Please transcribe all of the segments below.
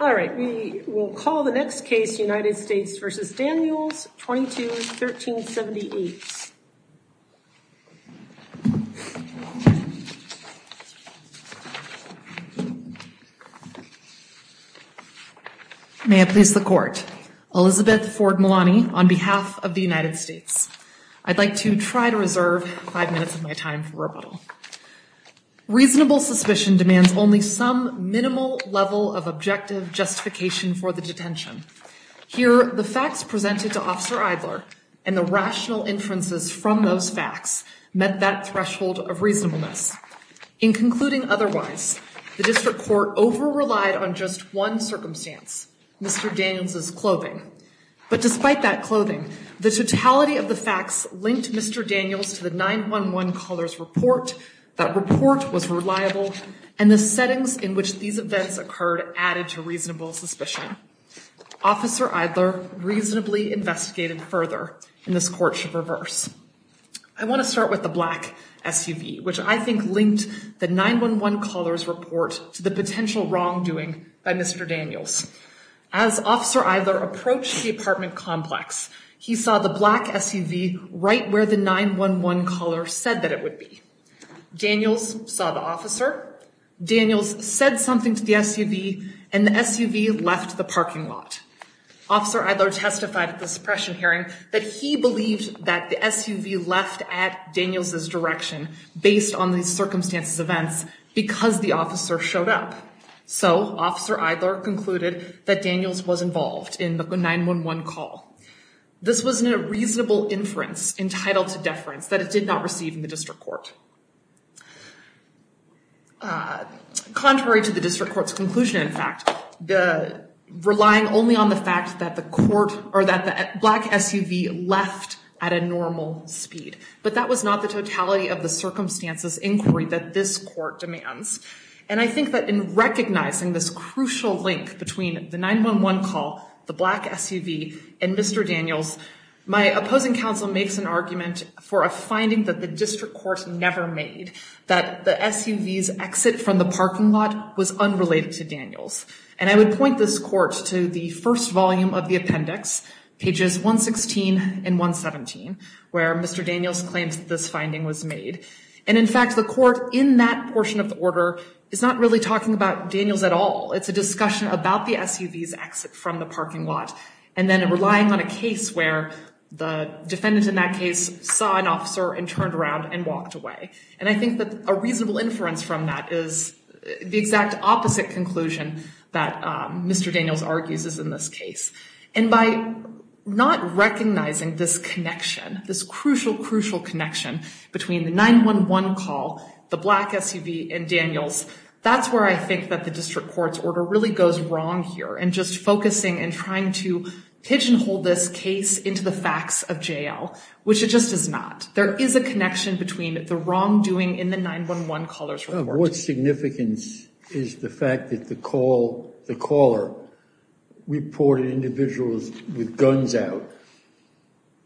All right, we will call the next case, United States v. Daniels, 22-1378. May it please the court. Elizabeth Ford Malani on behalf of the United States. I'd like to try to reserve five minutes of my time for rebuttal. Reasonable suspicion demands only some minimal level of objective justification for the detention. Here, the facts presented to Officer Idler and the rational inferences from those facts met that threshold of reasonableness. In concluding otherwise, the district court over relied on just one circumstance, Mr. Daniels' clothing. But despite that clothing, the totality of the facts linked Mr. Daniels to the 911 caller's report, that report was reliable, and the settings in which these events occurred added to reasonable suspicion. Officer Idler reasonably investigated further, and this court should reverse. I want to start with the black SUV, which I think linked the 911 caller's report to the potential wrongdoing by Mr. Daniels. As Officer Idler approached the apartment complex, he saw the black SUV right where the 911 caller said that it would be. Daniels saw the officer. Daniels said something to the SUV, and the SUV left the parking lot. Officer Idler testified at the suppression hearing that he believed that the SUV left at Daniels' direction based on these circumstances events because the officer showed up. So Officer Idler concluded that Daniels was involved in the 911 call. This was a reasonable inference entitled to deference that it did not receive in the district court. Contrary to the district court's conclusion, in fact, relying only on the fact that the black SUV left at a normal speed. But that was not the totality of the circumstances inquiry that this court demands. And I think that in recognizing this crucial link between the 911 call, the black SUV, and Mr. Daniels, my opposing counsel makes an argument for a finding that the district court never made, that the SUV's exit from the parking lot was unrelated to Daniels. And I would point this court to the first volume of the appendix, pages 116 and 117, where Mr. Daniels claims that this finding was made. And in fact, the court in that portion of the order is not really talking about Daniels at all. It's a discussion about the SUV's exit from the parking lot, and then relying on a case where the defendant in that case saw an officer and turned around and walked away. And I think that a reasonable inference from that is the exact opposite conclusion that Mr. Daniels argues is in this case. And by not recognizing this connection, this crucial, crucial connection between the 911 call, the black SUV, and Daniels, that's where I think that the district court's order really goes wrong here, and just focusing and trying to pigeonhole this case into the facts of jail, which it just does not. There is a connection between the wrongdoing in the 911 caller's report. What significance is the fact that the caller reported individuals with guns out?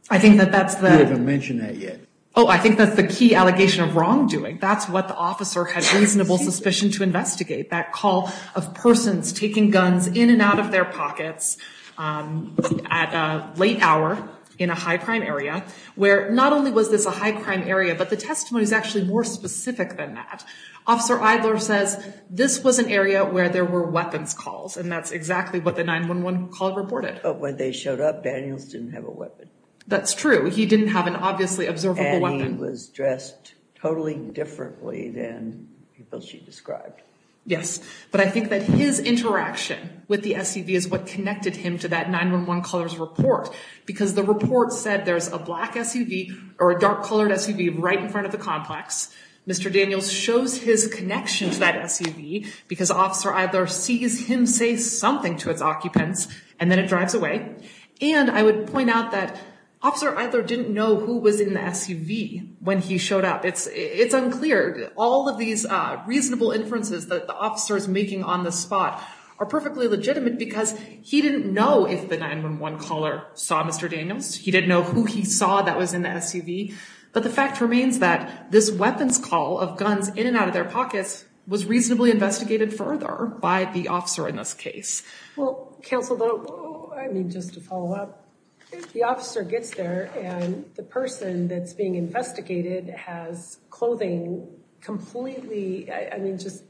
I think that that's the- You haven't mentioned that yet. Oh, I think that's the key allegation of wrongdoing. That's what the officer had reasonable suspicion to investigate, that call of persons taking guns in and out of their pockets at a late hour in a high-crime area, where not only was this a high-crime area, but the testimony is actually more specific than that. Officer Eidler says this was an area where there were weapons calls, and that's exactly what the 911 caller reported. But when they showed up, Daniels didn't have a weapon. That's true. He didn't have an obviously observable weapon. And he was dressed totally differently than people she described. Yes, but I think that his interaction with the SUV is what connected him to that 911 caller's report, because the report said there's a black SUV or a dark-colored SUV right in front of the complex. Mr. Daniels shows his connection to that SUV because Officer Eidler sees him say something to its occupants, and then it drives away. And I would point out that Officer Eidler didn't know who was in the SUV when he showed up. It's unclear. All of these reasonable inferences that the officer is making on the spot are perfectly legitimate because he didn't know if the 911 caller saw Mr. Daniels. He didn't know who he saw that was in the SUV. But the fact remains that this weapons call of guns in and out of their pockets was reasonably investigated further by the officer in this case. Well, counsel, though, I mean, just to follow up, if the officer gets there and the person that's being investigated has clothing completely, I mean, just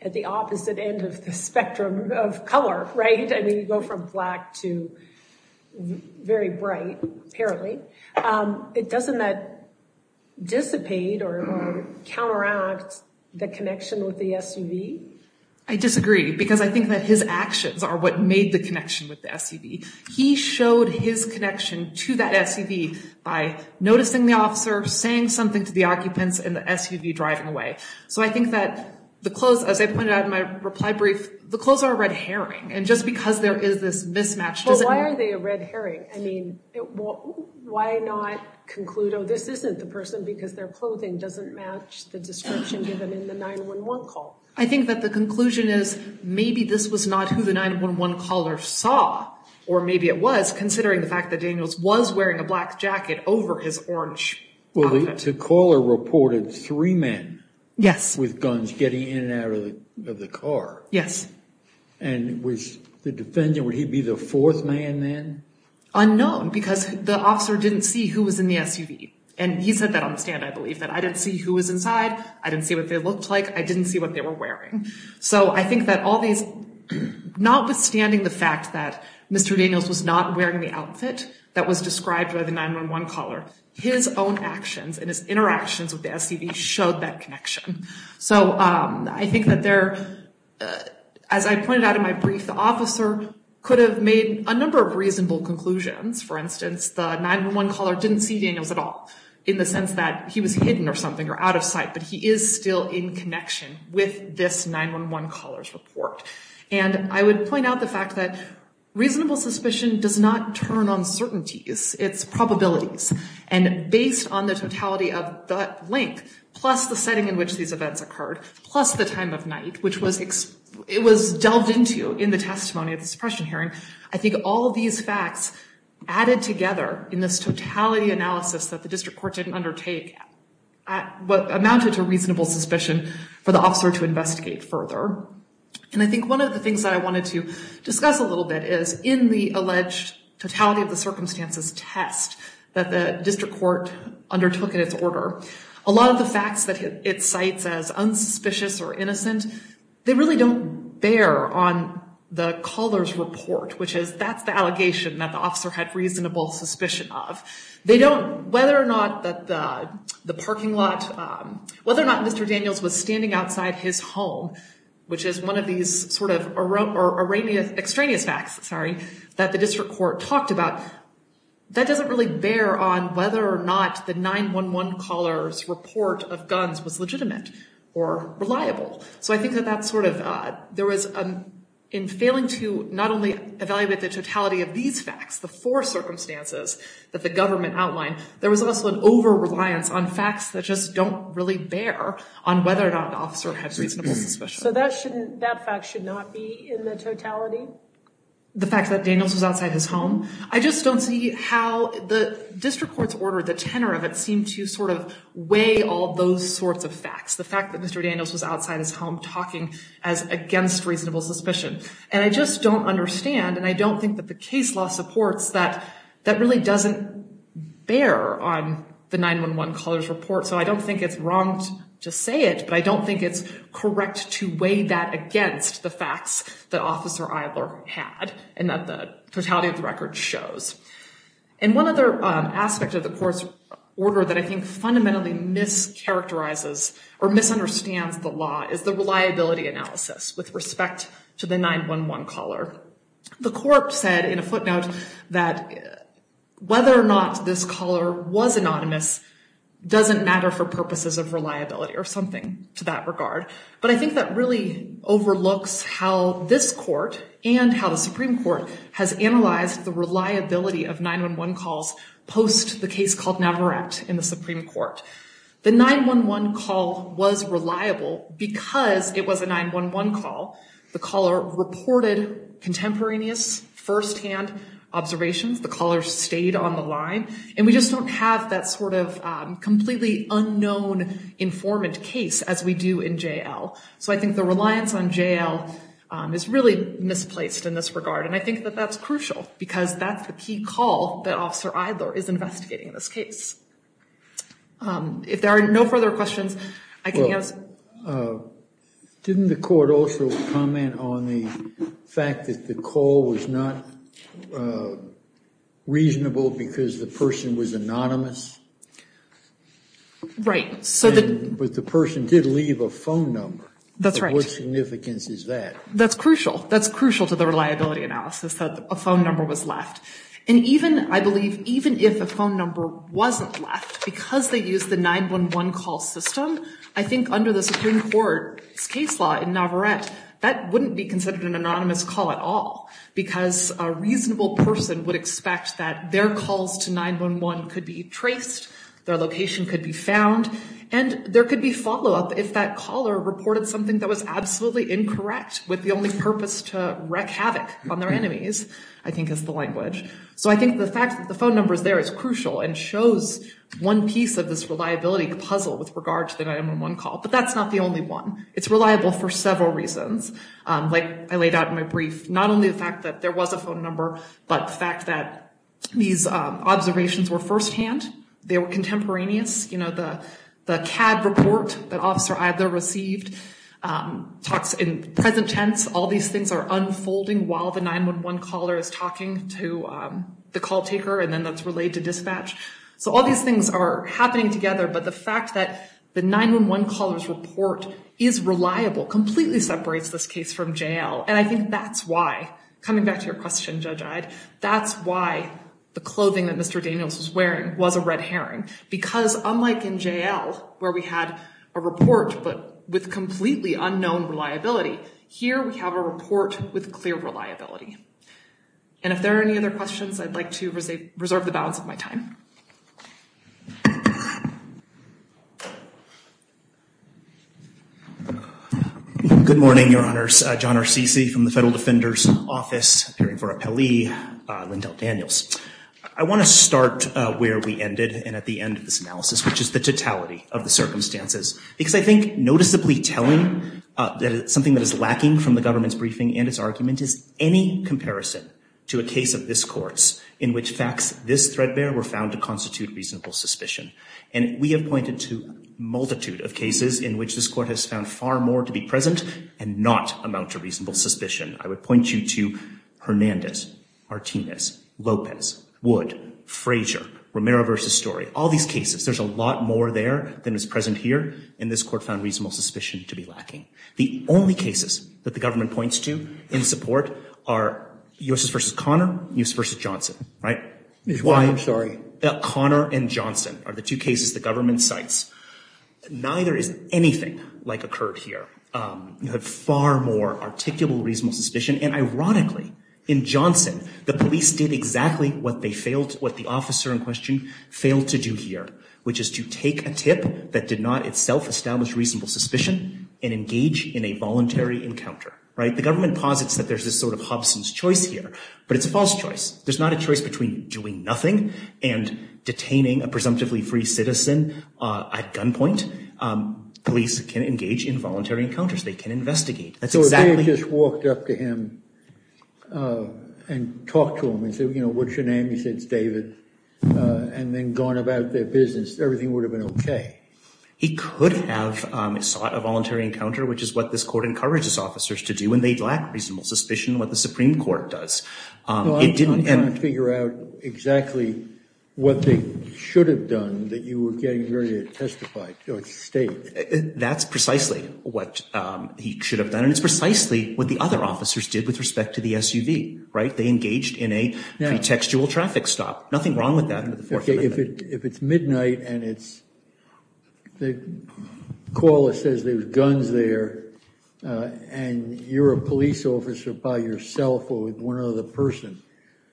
at the opposite end of the spectrum of color, right? I mean, you go from black to very bright, apparently. Doesn't that dissipate or counteract the connection with the SUV? I disagree, because I think that his actions are what made the connection with the SUV. He showed his connection to that SUV by noticing the officer, saying something to the occupants, and the SUV driving away. So I think that the clothes, as I pointed out in my reply brief, the clothes are a red herring, and just because there is this mismatch doesn't mean— Well, why are they a red herring? I mean, why not conclude, oh, this isn't the person because their clothing doesn't match the description given in the 911 call? I think that the conclusion is maybe this was not who the 911 caller saw, or maybe it was considering the fact that Daniels was wearing a black jacket over his orange outfit. Well, the caller reported three men with guns getting in and out of the car. Yes. And was the defendant, would he be the fourth man then? Unknown, because the officer didn't see who was in the SUV. And he said that on the stand, I believe, that I didn't see who was inside, I didn't see what they looked like, I didn't see what they were wearing. So I think that all these, notwithstanding the fact that Mr. Daniels was not wearing the outfit that was described by the 911 caller, his own actions and his interactions with the SUV showed that connection. So I think that there, as I pointed out in my brief, the officer could have made a number of reasonable conclusions. For instance, the 911 caller didn't see Daniels at all, in the sense that he was hidden or something or out of sight, but he is still in connection with this 911 caller's report. And I would point out the fact that reasonable suspicion does not turn on certainties, it's probabilities. And based on the totality of that link, plus the setting in which these events occurred, plus the time of night, which it was delved into in the testimony of the suppression hearing, I think all these facts added together in this totality analysis that the district court didn't undertake, amounted to reasonable suspicion for the officer to investigate further. And I think one of the things that I wanted to discuss a little bit is in the alleged totality of the circumstances test that the district court undertook in its order, a lot of the facts that it cites as unsuspicious or innocent, they really don't bear on the caller's report, which is that's the allegation that the officer had reasonable suspicion of. They don't, whether or not that the parking lot, whether or not Mr. Daniels was standing outside his home, which is one of these sort of extraneous facts, sorry, that the district court talked about, that doesn't really bear on whether or not the 911 caller's report of guns was legitimate or reliable. So I think that that's sort of, there was, in failing to not only evaluate the totality of these facts, the four circumstances that the government outlined, there was also an over-reliance on facts that just don't really bear on whether or not the officer had reasonable suspicion. So that shouldn't, that fact should not be in the totality? The fact that Daniels was outside his home? I just don't see how the district court's order, the tenor of it seemed to sort of weigh all those sorts of facts. The fact that Mr. Daniels was outside his home talking as against reasonable suspicion. And I just don't understand, and I don't think that the case law supports that, that really doesn't bear on the 911 caller's report. So I don't think it's wrong to say it, but I don't think it's correct to weigh that against the facts that Officer Idler had and that the totality of the record shows. And one other aspect of the court's order that I think fundamentally mischaracterizes or misunderstands the law is the reliability analysis with respect to the 911 caller. The court said in a footnote that whether or not this caller was anonymous doesn't matter for purposes of reliability or something to that regard. But I think that really overlooks how this court and how the Supreme Court has analyzed the reliability of 911 calls post the case called Navarrete in the Supreme Court. The 911 call was reliable because it was a 911 call. The caller reported contemporaneous, firsthand observations. The caller stayed on the line. And we just don't have that sort of completely unknown informant case as we do in J.L. So I think the reliance on J.L. is really misplaced in this regard, and I think that that's crucial because that's the key call that Officer Idler is investigating in this case. If there are no further questions, I can answer. Didn't the court also comment on the fact that the call was not reasonable because the person was anonymous? Right. But the person did leave a phone number. That's right. What significance is that? That's crucial. That's crucial to the reliability analysis that a phone number was left. And even, I believe, even if a phone number wasn't left because they used the 911 call system, I think under the Supreme Court's case law in Navarrete, that wouldn't be considered an anonymous call at all because a reasonable person would expect that their calls to 911 could be traced, their location could be found, and there could be follow-up if that caller reported something that was absolutely incorrect with the only purpose to wreak havoc on their enemies, I think is the language. So I think the fact that the phone number is there is crucial and shows one piece of this reliability puzzle with regard to the 911 call. But that's not the only one. It's reliable for several reasons, like I laid out in my brief. Not only the fact that there was a phone number, but the fact that these observations were firsthand. They were contemporaneous. You know, the CAD report that Officer Idler received talks in present tense. All these things are unfolding while the 911 caller is talking to the call taker and then that's relayed to dispatch. So all these things are happening together. But the fact that the 911 caller's report is reliable completely separates this case from J.L. And I think that's why, coming back to your question, Judge Ide, that's why the clothing that Mr. Daniels was wearing was a red herring. Because unlike in J.L., where we had a report but with completely unknown reliability, here we have a report with clear reliability. And if there are any other questions, I'd like to reserve the balance of my time. Good morning, Your Honors. John Arsici from the Federal Defender's Office, appearing for Appellee Lyndell Daniels. I want to start where we ended and at the end of this analysis, which is the totality of the circumstances. Because I think noticeably telling, something that is lacking from the government's briefing and its argument, is any comparison to a case of this Court's in which facts this threadbare were found to constitute reasonable suspicion. And we have pointed to a multitude of cases in which this Court has found far more to be present and not amount to reasonable suspicion. I would point you to Hernandez, Martinez, Lopez, Wood, Frazier, Romero v. Story, all these cases. There's a lot more there than is present here, and this Court found reasonable suspicion to be lacking. The only cases that the government points to in support are U.S. v. Conner, U.S. v. Johnson, right? I'm sorry. Conner and Johnson are the two cases the government cites. Neither is anything like occurred here. You have far more articulable reasonable suspicion. And ironically, in Johnson, the police did exactly what they failed, what the officer in question failed to do here, which is to take a tip that did not itself establish reasonable suspicion and engage in a voluntary encounter, right? The government posits that there's this sort of Hobson's choice here, but it's a false choice. There's not a choice between doing nothing and detaining a presumptively free citizen at gunpoint. Police can engage in voluntary encounters. They can investigate. So if they had just walked up to him and talked to him and said, you know, what's your name? He said, it's David. And then gone about their business, everything would have been okay. He could have sought a voluntary encounter, which is what this Court encourages officers to do, and they lack reasonable suspicion in what the Supreme Court does. Well, I'm trying to figure out exactly what they should have done that you were getting ready to testify or state. That's precisely what he should have done. And it's precisely what the other officers did with respect to the SUV, right? They engaged in a pretextual traffic stop. Nothing wrong with that. If it's midnight and the caller says there's guns there and you're a police officer by yourself or with one other person,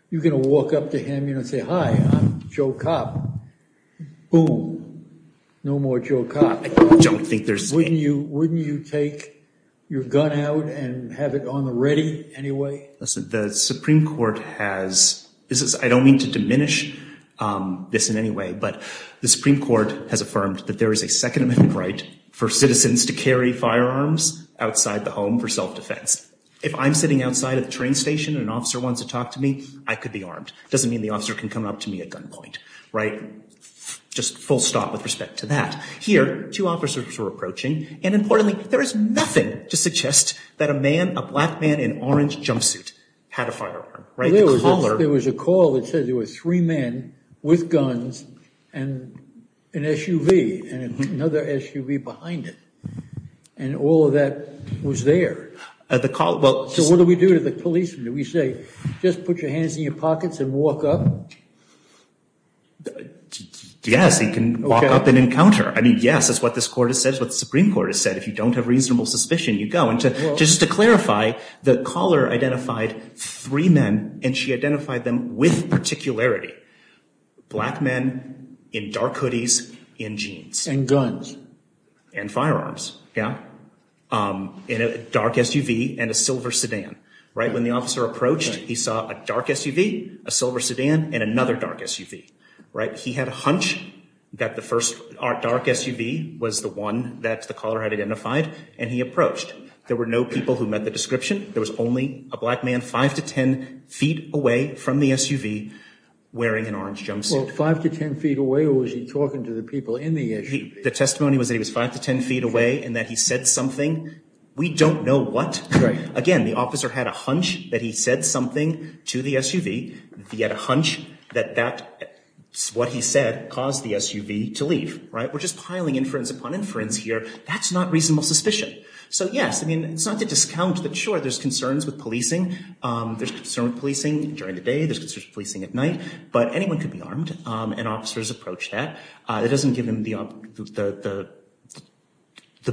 you're going to walk up to him and say, hi, I'm Joe Cobb. Boom. No more Joe Cobb. I don't think there's... Wouldn't you take your gun out and have it on the ready anyway? Listen, the Supreme Court has... I don't mean to diminish this in any way, but the Supreme Court has affirmed that there is a Second Amendment right for citizens to carry firearms outside the home for self-defense. If I'm sitting outside at the train station and an officer wants to talk to me, I could be armed. Doesn't mean the officer can come up to me at gunpoint, right? Just full stop with respect to that. Here, two officers were approaching, and importantly, there is nothing to suggest that a man, a black man in orange jumpsuit, had a firearm. There was a call that said there were three men with guns and an SUV and another SUV behind it. And all of that was there. So what do we do to the policeman? Do we say, just put your hands in your pockets and walk up? Yes, he can walk up and encounter. I mean, yes, that's what this court has said, what the Supreme Court has said. If you don't have reasonable suspicion, you go. And just to clarify, the caller identified three men, and she identified them with particularity. Black men in dark hoodies and jeans. And guns. And firearms, yeah. In a dark SUV and a silver sedan, right? When the officer approached, he saw a dark SUV, a silver sedan, and another dark SUV, right? He had a hunch that the first dark SUV was the one that the caller had identified, and he approached. There were no people who met the description. There was only a black man five to ten feet away from the SUV wearing an orange jumpsuit. Well, five to ten feet away, or was he talking to the people in the SUV? The testimony was that he was five to ten feet away and that he said something. We don't know what. Again, the officer had a hunch that he said something to the SUV. He had a hunch that what he said caused the SUV to leave, right? We're just piling inference upon inference here. That's not reasonable suspicion. So, yes, I mean, it's not to discount that, sure, there's concerns with policing. There's concerns with policing during the day. There's concerns with policing at night. But anyone could be armed, and officers approach that. It doesn't give him the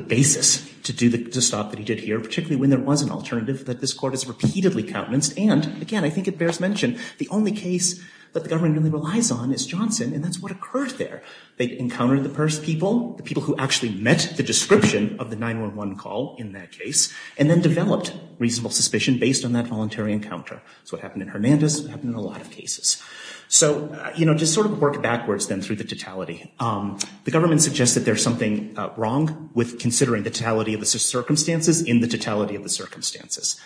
basis to do the stop that he did here, particularly when there was an alternative that this court has repeatedly countenanced. And, again, I think it bears mention, the only case that the government really relies on is Johnson, and that's what occurred there. They encountered the first people, the people who actually met the description of the 911 call in that case, and then developed reasonable suspicion based on that voluntary encounter. That's what happened in Hernandez. It happened in a lot of cases. So, you know, just sort of work backwards then through the totality. The government suggests that there's something wrong with considering the totality of the circumstances in the totality of the circumstances.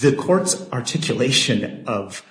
The court's articulation of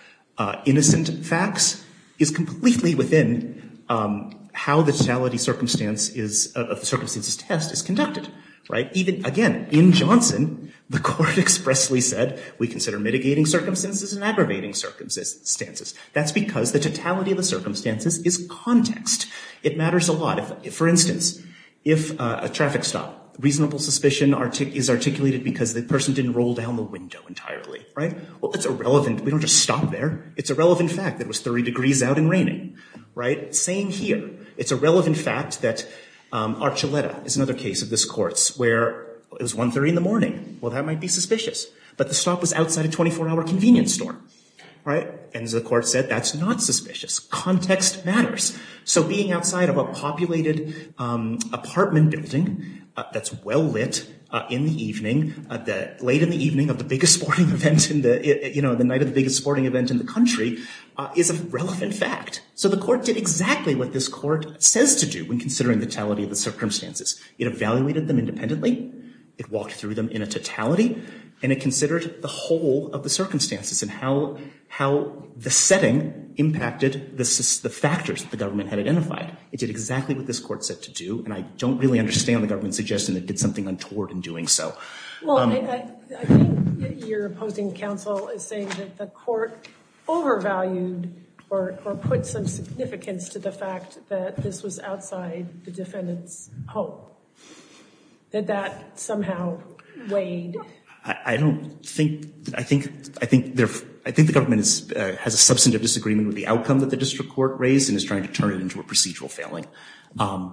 innocent facts is completely within how the totality of the circumstances test is conducted, right? Again, in Johnson, the court expressly said, we consider mitigating circumstances and aggravating circumstances. That's because the totality of the circumstances is context. It matters a lot. For instance, if a traffic stop, reasonable suspicion is articulated because the person didn't roll down the window entirely, right? Well, that's irrelevant. We don't just stop there. It's a relevant fact that it was 30 degrees out and raining, right? Same here. It's a relevant fact that Archuleta is another case of this courts where it was 1.30 in the morning. Well, that might be suspicious, but the stop was outside a 24-hour convenience store, right? And as the court said, that's not suspicious. Context matters. So being outside of a populated apartment building that's well lit in the evening, late in the evening of the night of the biggest sporting event in the country is a relevant fact. So the court did exactly what this court says to do when considering the totality of the circumstances. It evaluated them independently. It walked through them in a totality. And it considered the whole of the circumstances and how the setting impacted the factors that the government had identified. It did exactly what this court said to do. And I don't really understand the government's suggestion that it did something untoward in doing so. Well, I think your opposing counsel is saying that the court overvalued or put some significance to the fact that this was outside the defendant's home. That that somehow weighed. I don't think, I think, I think the government has a substantive disagreement with the outcome that the district court raised and is trying to turn it into a procedural failing.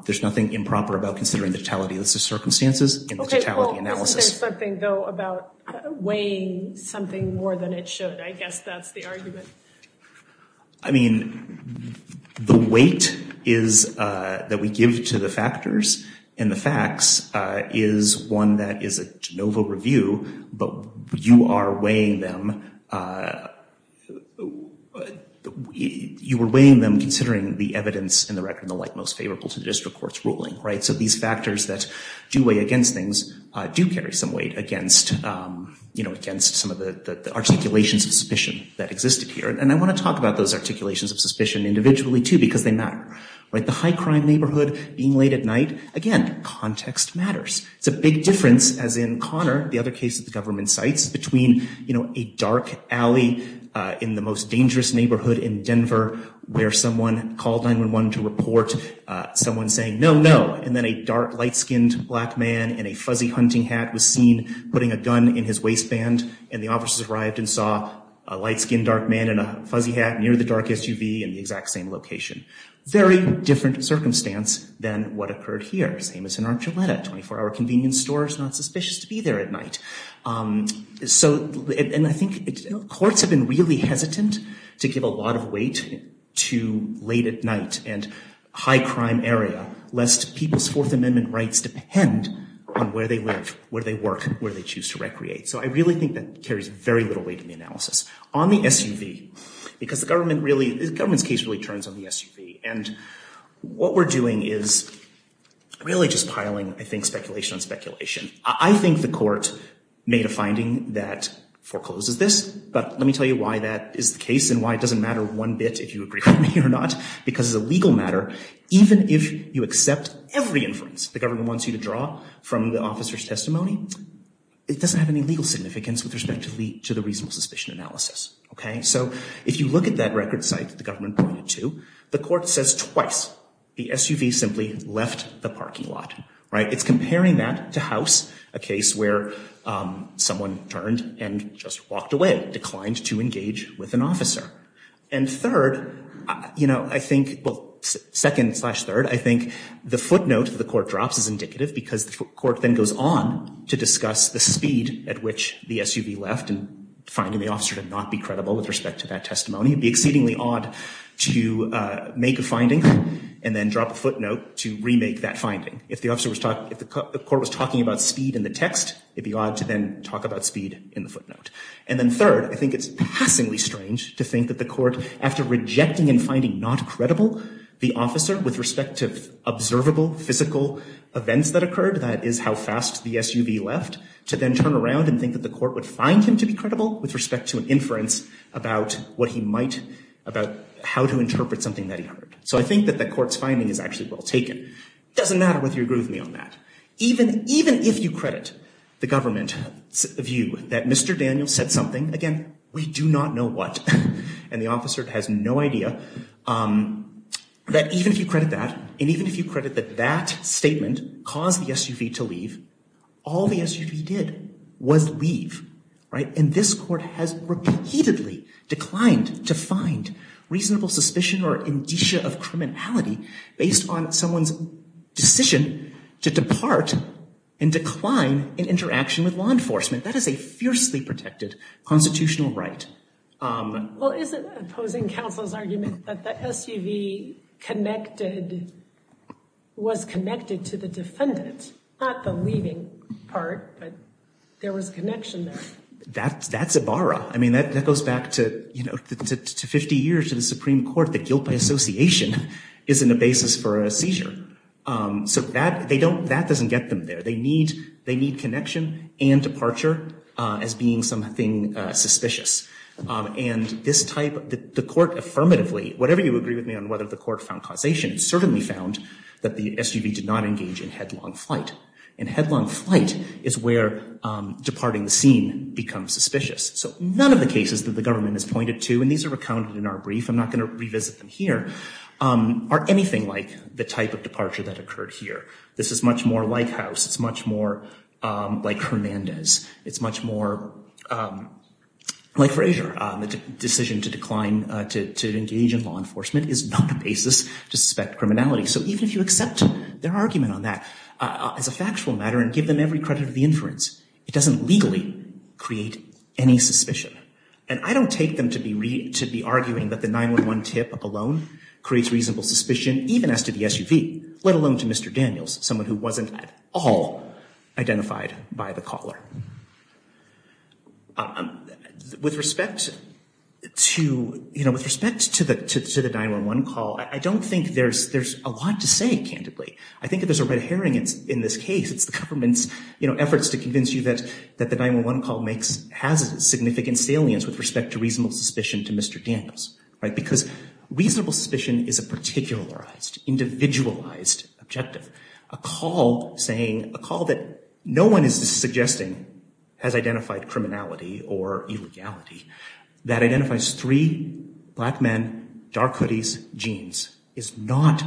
There's nothing improper about considering the totality of the circumstances and the totality analysis. There's something, though, about weighing something more than it should. I guess that's the argument. I mean, the weight is that we give to the factors and the facts is one that is a Genova review. But you are weighing them. You were weighing them considering the evidence in the record, the like most favorable to the district court's ruling. Right. So these factors that do weigh against things do carry some weight against, you know, against some of the articulations of suspicion that existed here. And I want to talk about those articulations of suspicion individually, too, because they matter. The high crime neighborhood being late at night. Again, context matters. It's a big difference, as in Connor, the other case of the government sites between, you know, a dark alley in the most dangerous neighborhood in Denver where someone called 911 to report someone saying no, no. And then a dark light skinned black man in a fuzzy hunting hat was seen putting a gun in his waistband. And the officers arrived and saw a light skinned dark man in a fuzzy hat near the dark SUV in the exact same location. Very different circumstance than what occurred here. Same as in Archuleta. 24 hour convenience store is not suspicious to be there at night. So and I think courts have been really hesitant to give a lot of weight to late at night and high crime area, lest people's Fourth Amendment rights depend on where they live, where they work, where they choose to recreate. So I really think that carries very little weight in the analysis. On the SUV, because the government really, the government's case really turns on the SUV. And what we're doing is really just piling, I think, speculation on speculation. I think the court made a finding that forecloses this. But let me tell you why that is the case and why it doesn't matter one bit if you agree with me or not. Because as a legal matter, even if you accept every inference the government wants you to draw from the officer's testimony, it doesn't have any legal significance with respect to the reasonable suspicion analysis. So if you look at that record site that the government pointed to, the court says twice the SUV simply left the parking lot. It's comparing that to House, a case where someone turned and just walked away, declined to engage with an officer. And third, you know, I think, well, second slash third, I think the footnote that the court drops is indicative because the court then goes on to discuss the speed at which the SUV left and finding the officer to not be credible with respect to that testimony. It would be exceedingly odd to make a finding and then drop a footnote to remake that finding. If the officer was talking, if the court was talking about speed in the text, it would be odd to then talk about speed in the footnote. And then third, I think it's passingly strange to think that the court, after rejecting and finding not credible the officer with respect to observable physical events that occurred, that is how fast the SUV left, to then turn around and think that the court would find him to be credible with respect to an inference about what he might, about how to interpret something that he heard. So I think that the court's finding is actually well taken. It doesn't matter whether you agree with me on that. Even if you credit the government's view that Mr. Daniels said something, again, we do not know what. And the officer has no idea. That even if you credit that, and even if you credit that that statement caused the SUV to leave, all the SUV did was leave. And this court has repeatedly declined to find reasonable suspicion or indicia of criminality based on someone's decision to depart and decline in interaction with law enforcement. That is a fiercely protected constitutional right. Well, is it opposing counsel's argument that the SUV connected, was connected to the defendant? Not the leaving part, but there was a connection there. That's a barra. I mean, that goes back to, you know, 50 years to the Supreme Court. The guilt by association isn't a basis for a seizure. So that they don't, that doesn't get them there. They need connection and departure as being something suspicious. And this type, the court affirmatively, whatever you agree with me on whether the court found causation, it certainly found that the SUV did not engage in headlong flight. And headlong flight is where departing the scene becomes suspicious. So none of the cases that the government has pointed to, and these are recounted in our brief, I'm not going to revisit them here, are anything like the type of departure that occurred here. This is much more like House. It's much more like Hernandez. It's much more like Frazier. The decision to decline, to engage in law enforcement is not a basis to suspect criminality. So even if you accept their argument on that as a factual matter and give them every credit of the inference, it doesn't legally create any suspicion. And I don't take them to be arguing that the 911 tip alone creates reasonable suspicion, even as to the SUV, let alone to Mr. Daniels, someone who wasn't at all identified by the caller. With respect to, you know, with respect to the 911 call, I don't think there's a lot to say, candidly. I think if there's a red herring in this case, it's the government's efforts to convince you that the 911 call has a significant salience with respect to reasonable suspicion to Mr. Daniels. Because reasonable suspicion is a particularized, individualized objective. A call saying, a call that no one is suggesting has identified criminality or illegality. That identifies three black men, dark hoodies, jeans, is not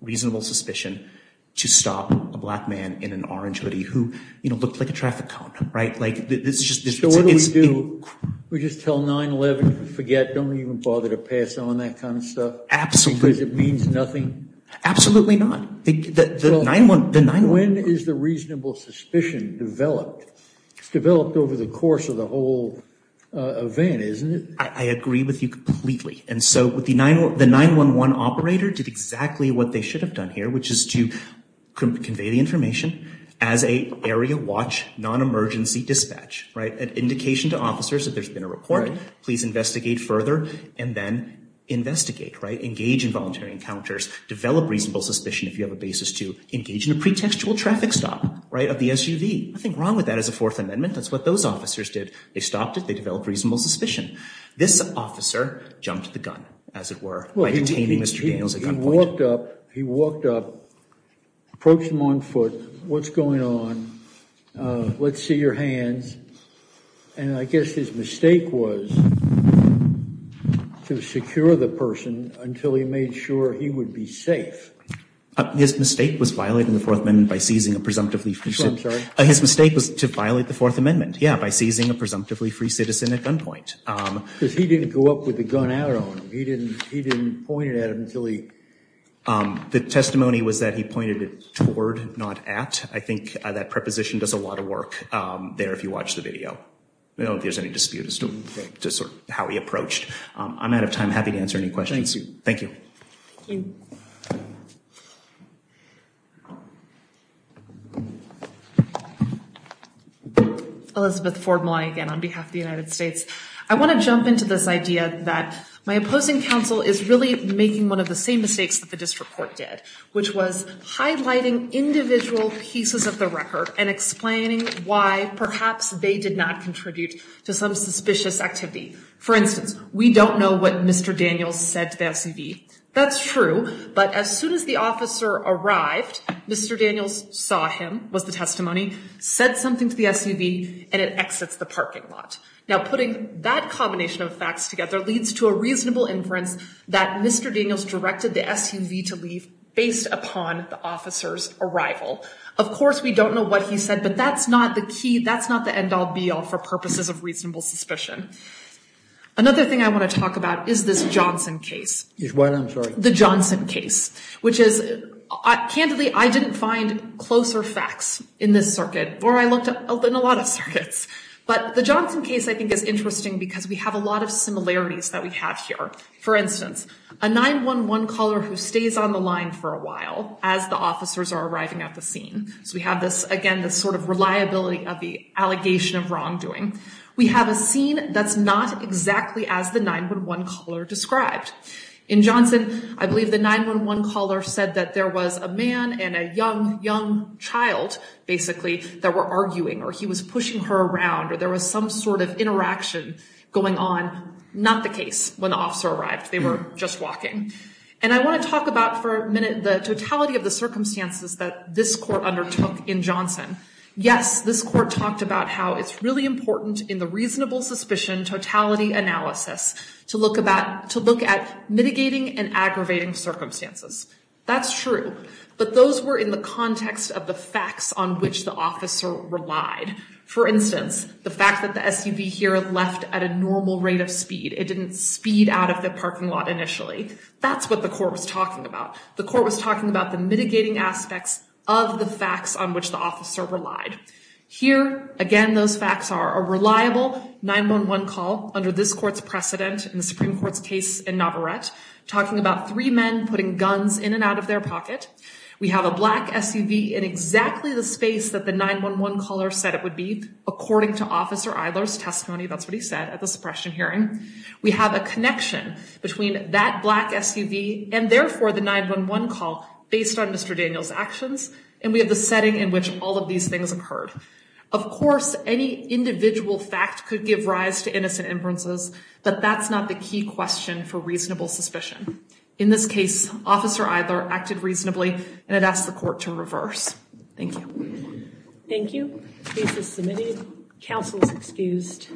reasonable suspicion to stop a black man in an orange hoodie who, you know, looked like a traffic cone. Right? Like, this is just... So what do we do? We just tell 911 to forget, don't even bother to pass on that kind of stuff? Absolutely. Because it means nothing? Absolutely not. The 911... When is the reasonable suspicion developed? It's developed over the course of the whole event, isn't it? I agree with you completely. And so the 911 operator did exactly what they should have done here, which is to convey the information as an area watch non-emergency dispatch. Right? An indication to officers that there's been a report. Please investigate further and then investigate. Right? Engage in voluntary encounters. Develop reasonable suspicion if you have a basis to engage in a pretextual traffic stop. Right? Of the SUV. Nothing wrong with that as a Fourth Amendment. That's what those officers did. They stopped it. They developed reasonable suspicion. This officer jumped the gun, as it were, by detaining Mr. Daniels at gunpoint. He walked up. He walked up. Approached him on foot. What's going on? Let's see your hands. And I guess his mistake was to secure the person until he made sure he would be safe. His mistake was violating the Fourth Amendment by seizing a presumptively free citizen. I'm sorry? His mistake was to violate the Fourth Amendment, yeah, by seizing a presumptively free citizen at gunpoint. Because he didn't go up with the gun out on him. He didn't point it at him until he... The testimony was that he pointed it toward, not at. I think that preposition does a lot of work there, if you watch the video. I don't know if there's any dispute as to how he approached. I'm out of time. Happy to answer any questions. Thank you. Thank you. Thank you. Elizabeth Ford Malign, again, on behalf of the United States. I want to jump into this idea that my opposing counsel is really making one of the same mistakes that the district court did, which was highlighting individual pieces of the record and explaining why perhaps they did not contribute to some suspicious activity. For instance, we don't know what Mr. Daniels said to the SUV. That's true. But as soon as the officer arrived, Mr. Daniels saw him, was the testimony, said something to the SUV, and it exits the parking lot. Now, putting that combination of facts together leads to a reasonable inference that Mr. Daniels directed the SUV to leave based upon the officer's arrival. Of course, we don't know what he said, but that's not the key. That's not the end-all, be-all for purposes of reasonable suspicion. Another thing I want to talk about is this Johnson case. Is what, I'm sorry? The Johnson case, which is, candidly, I didn't find closer facts in this circuit, or I looked in a lot of circuits. But the Johnson case, I think, is interesting because we have a lot of similarities that we have here. For instance, a 911 caller who stays on the line for a while as the officers are arriving at the scene. So we have this, again, this sort of reliability of the allegation of wrongdoing. We have a scene that's not exactly as the 911 caller described. In Johnson, I believe the 911 caller said that there was a man and a young, young child, basically, that were arguing or he was pushing her around or there was some sort of interaction going on. Not the case when the officer arrived. They were just walking. And I want to talk about for a minute the totality of the circumstances that this court undertook in Johnson. Yes, this court talked about how it's really important in the reasonable suspicion totality analysis to look at mitigating and aggravating circumstances. That's true. But those were in the context of the facts on which the officer relied. For instance, the fact that the SUV here left at a normal rate of speed. It didn't speed out of the parking lot initially. That's what the court was talking about. The court was talking about the mitigating aspects of the facts on which the officer relied. Here, again, those facts are a reliable 911 call under this court's precedent in the Supreme Court's case in Navarrete, talking about three men putting guns in and out of their pocket. We have a black SUV in exactly the space that the 911 caller said it would be, according to Officer Eiler's testimony. That's what he said at the suppression hearing. We have a connection between that black SUV and, therefore, the 911 call based on Mr. Daniel's actions. And we have the setting in which all of these things occurred. Of course, any individual fact could give rise to innocent inferences, but that's not the key question for reasonable suspicion. In this case, Officer Eiler acted reasonably, and it asks the court to reverse. Thank you. Thank you. Case is submitted. Counsel is excused.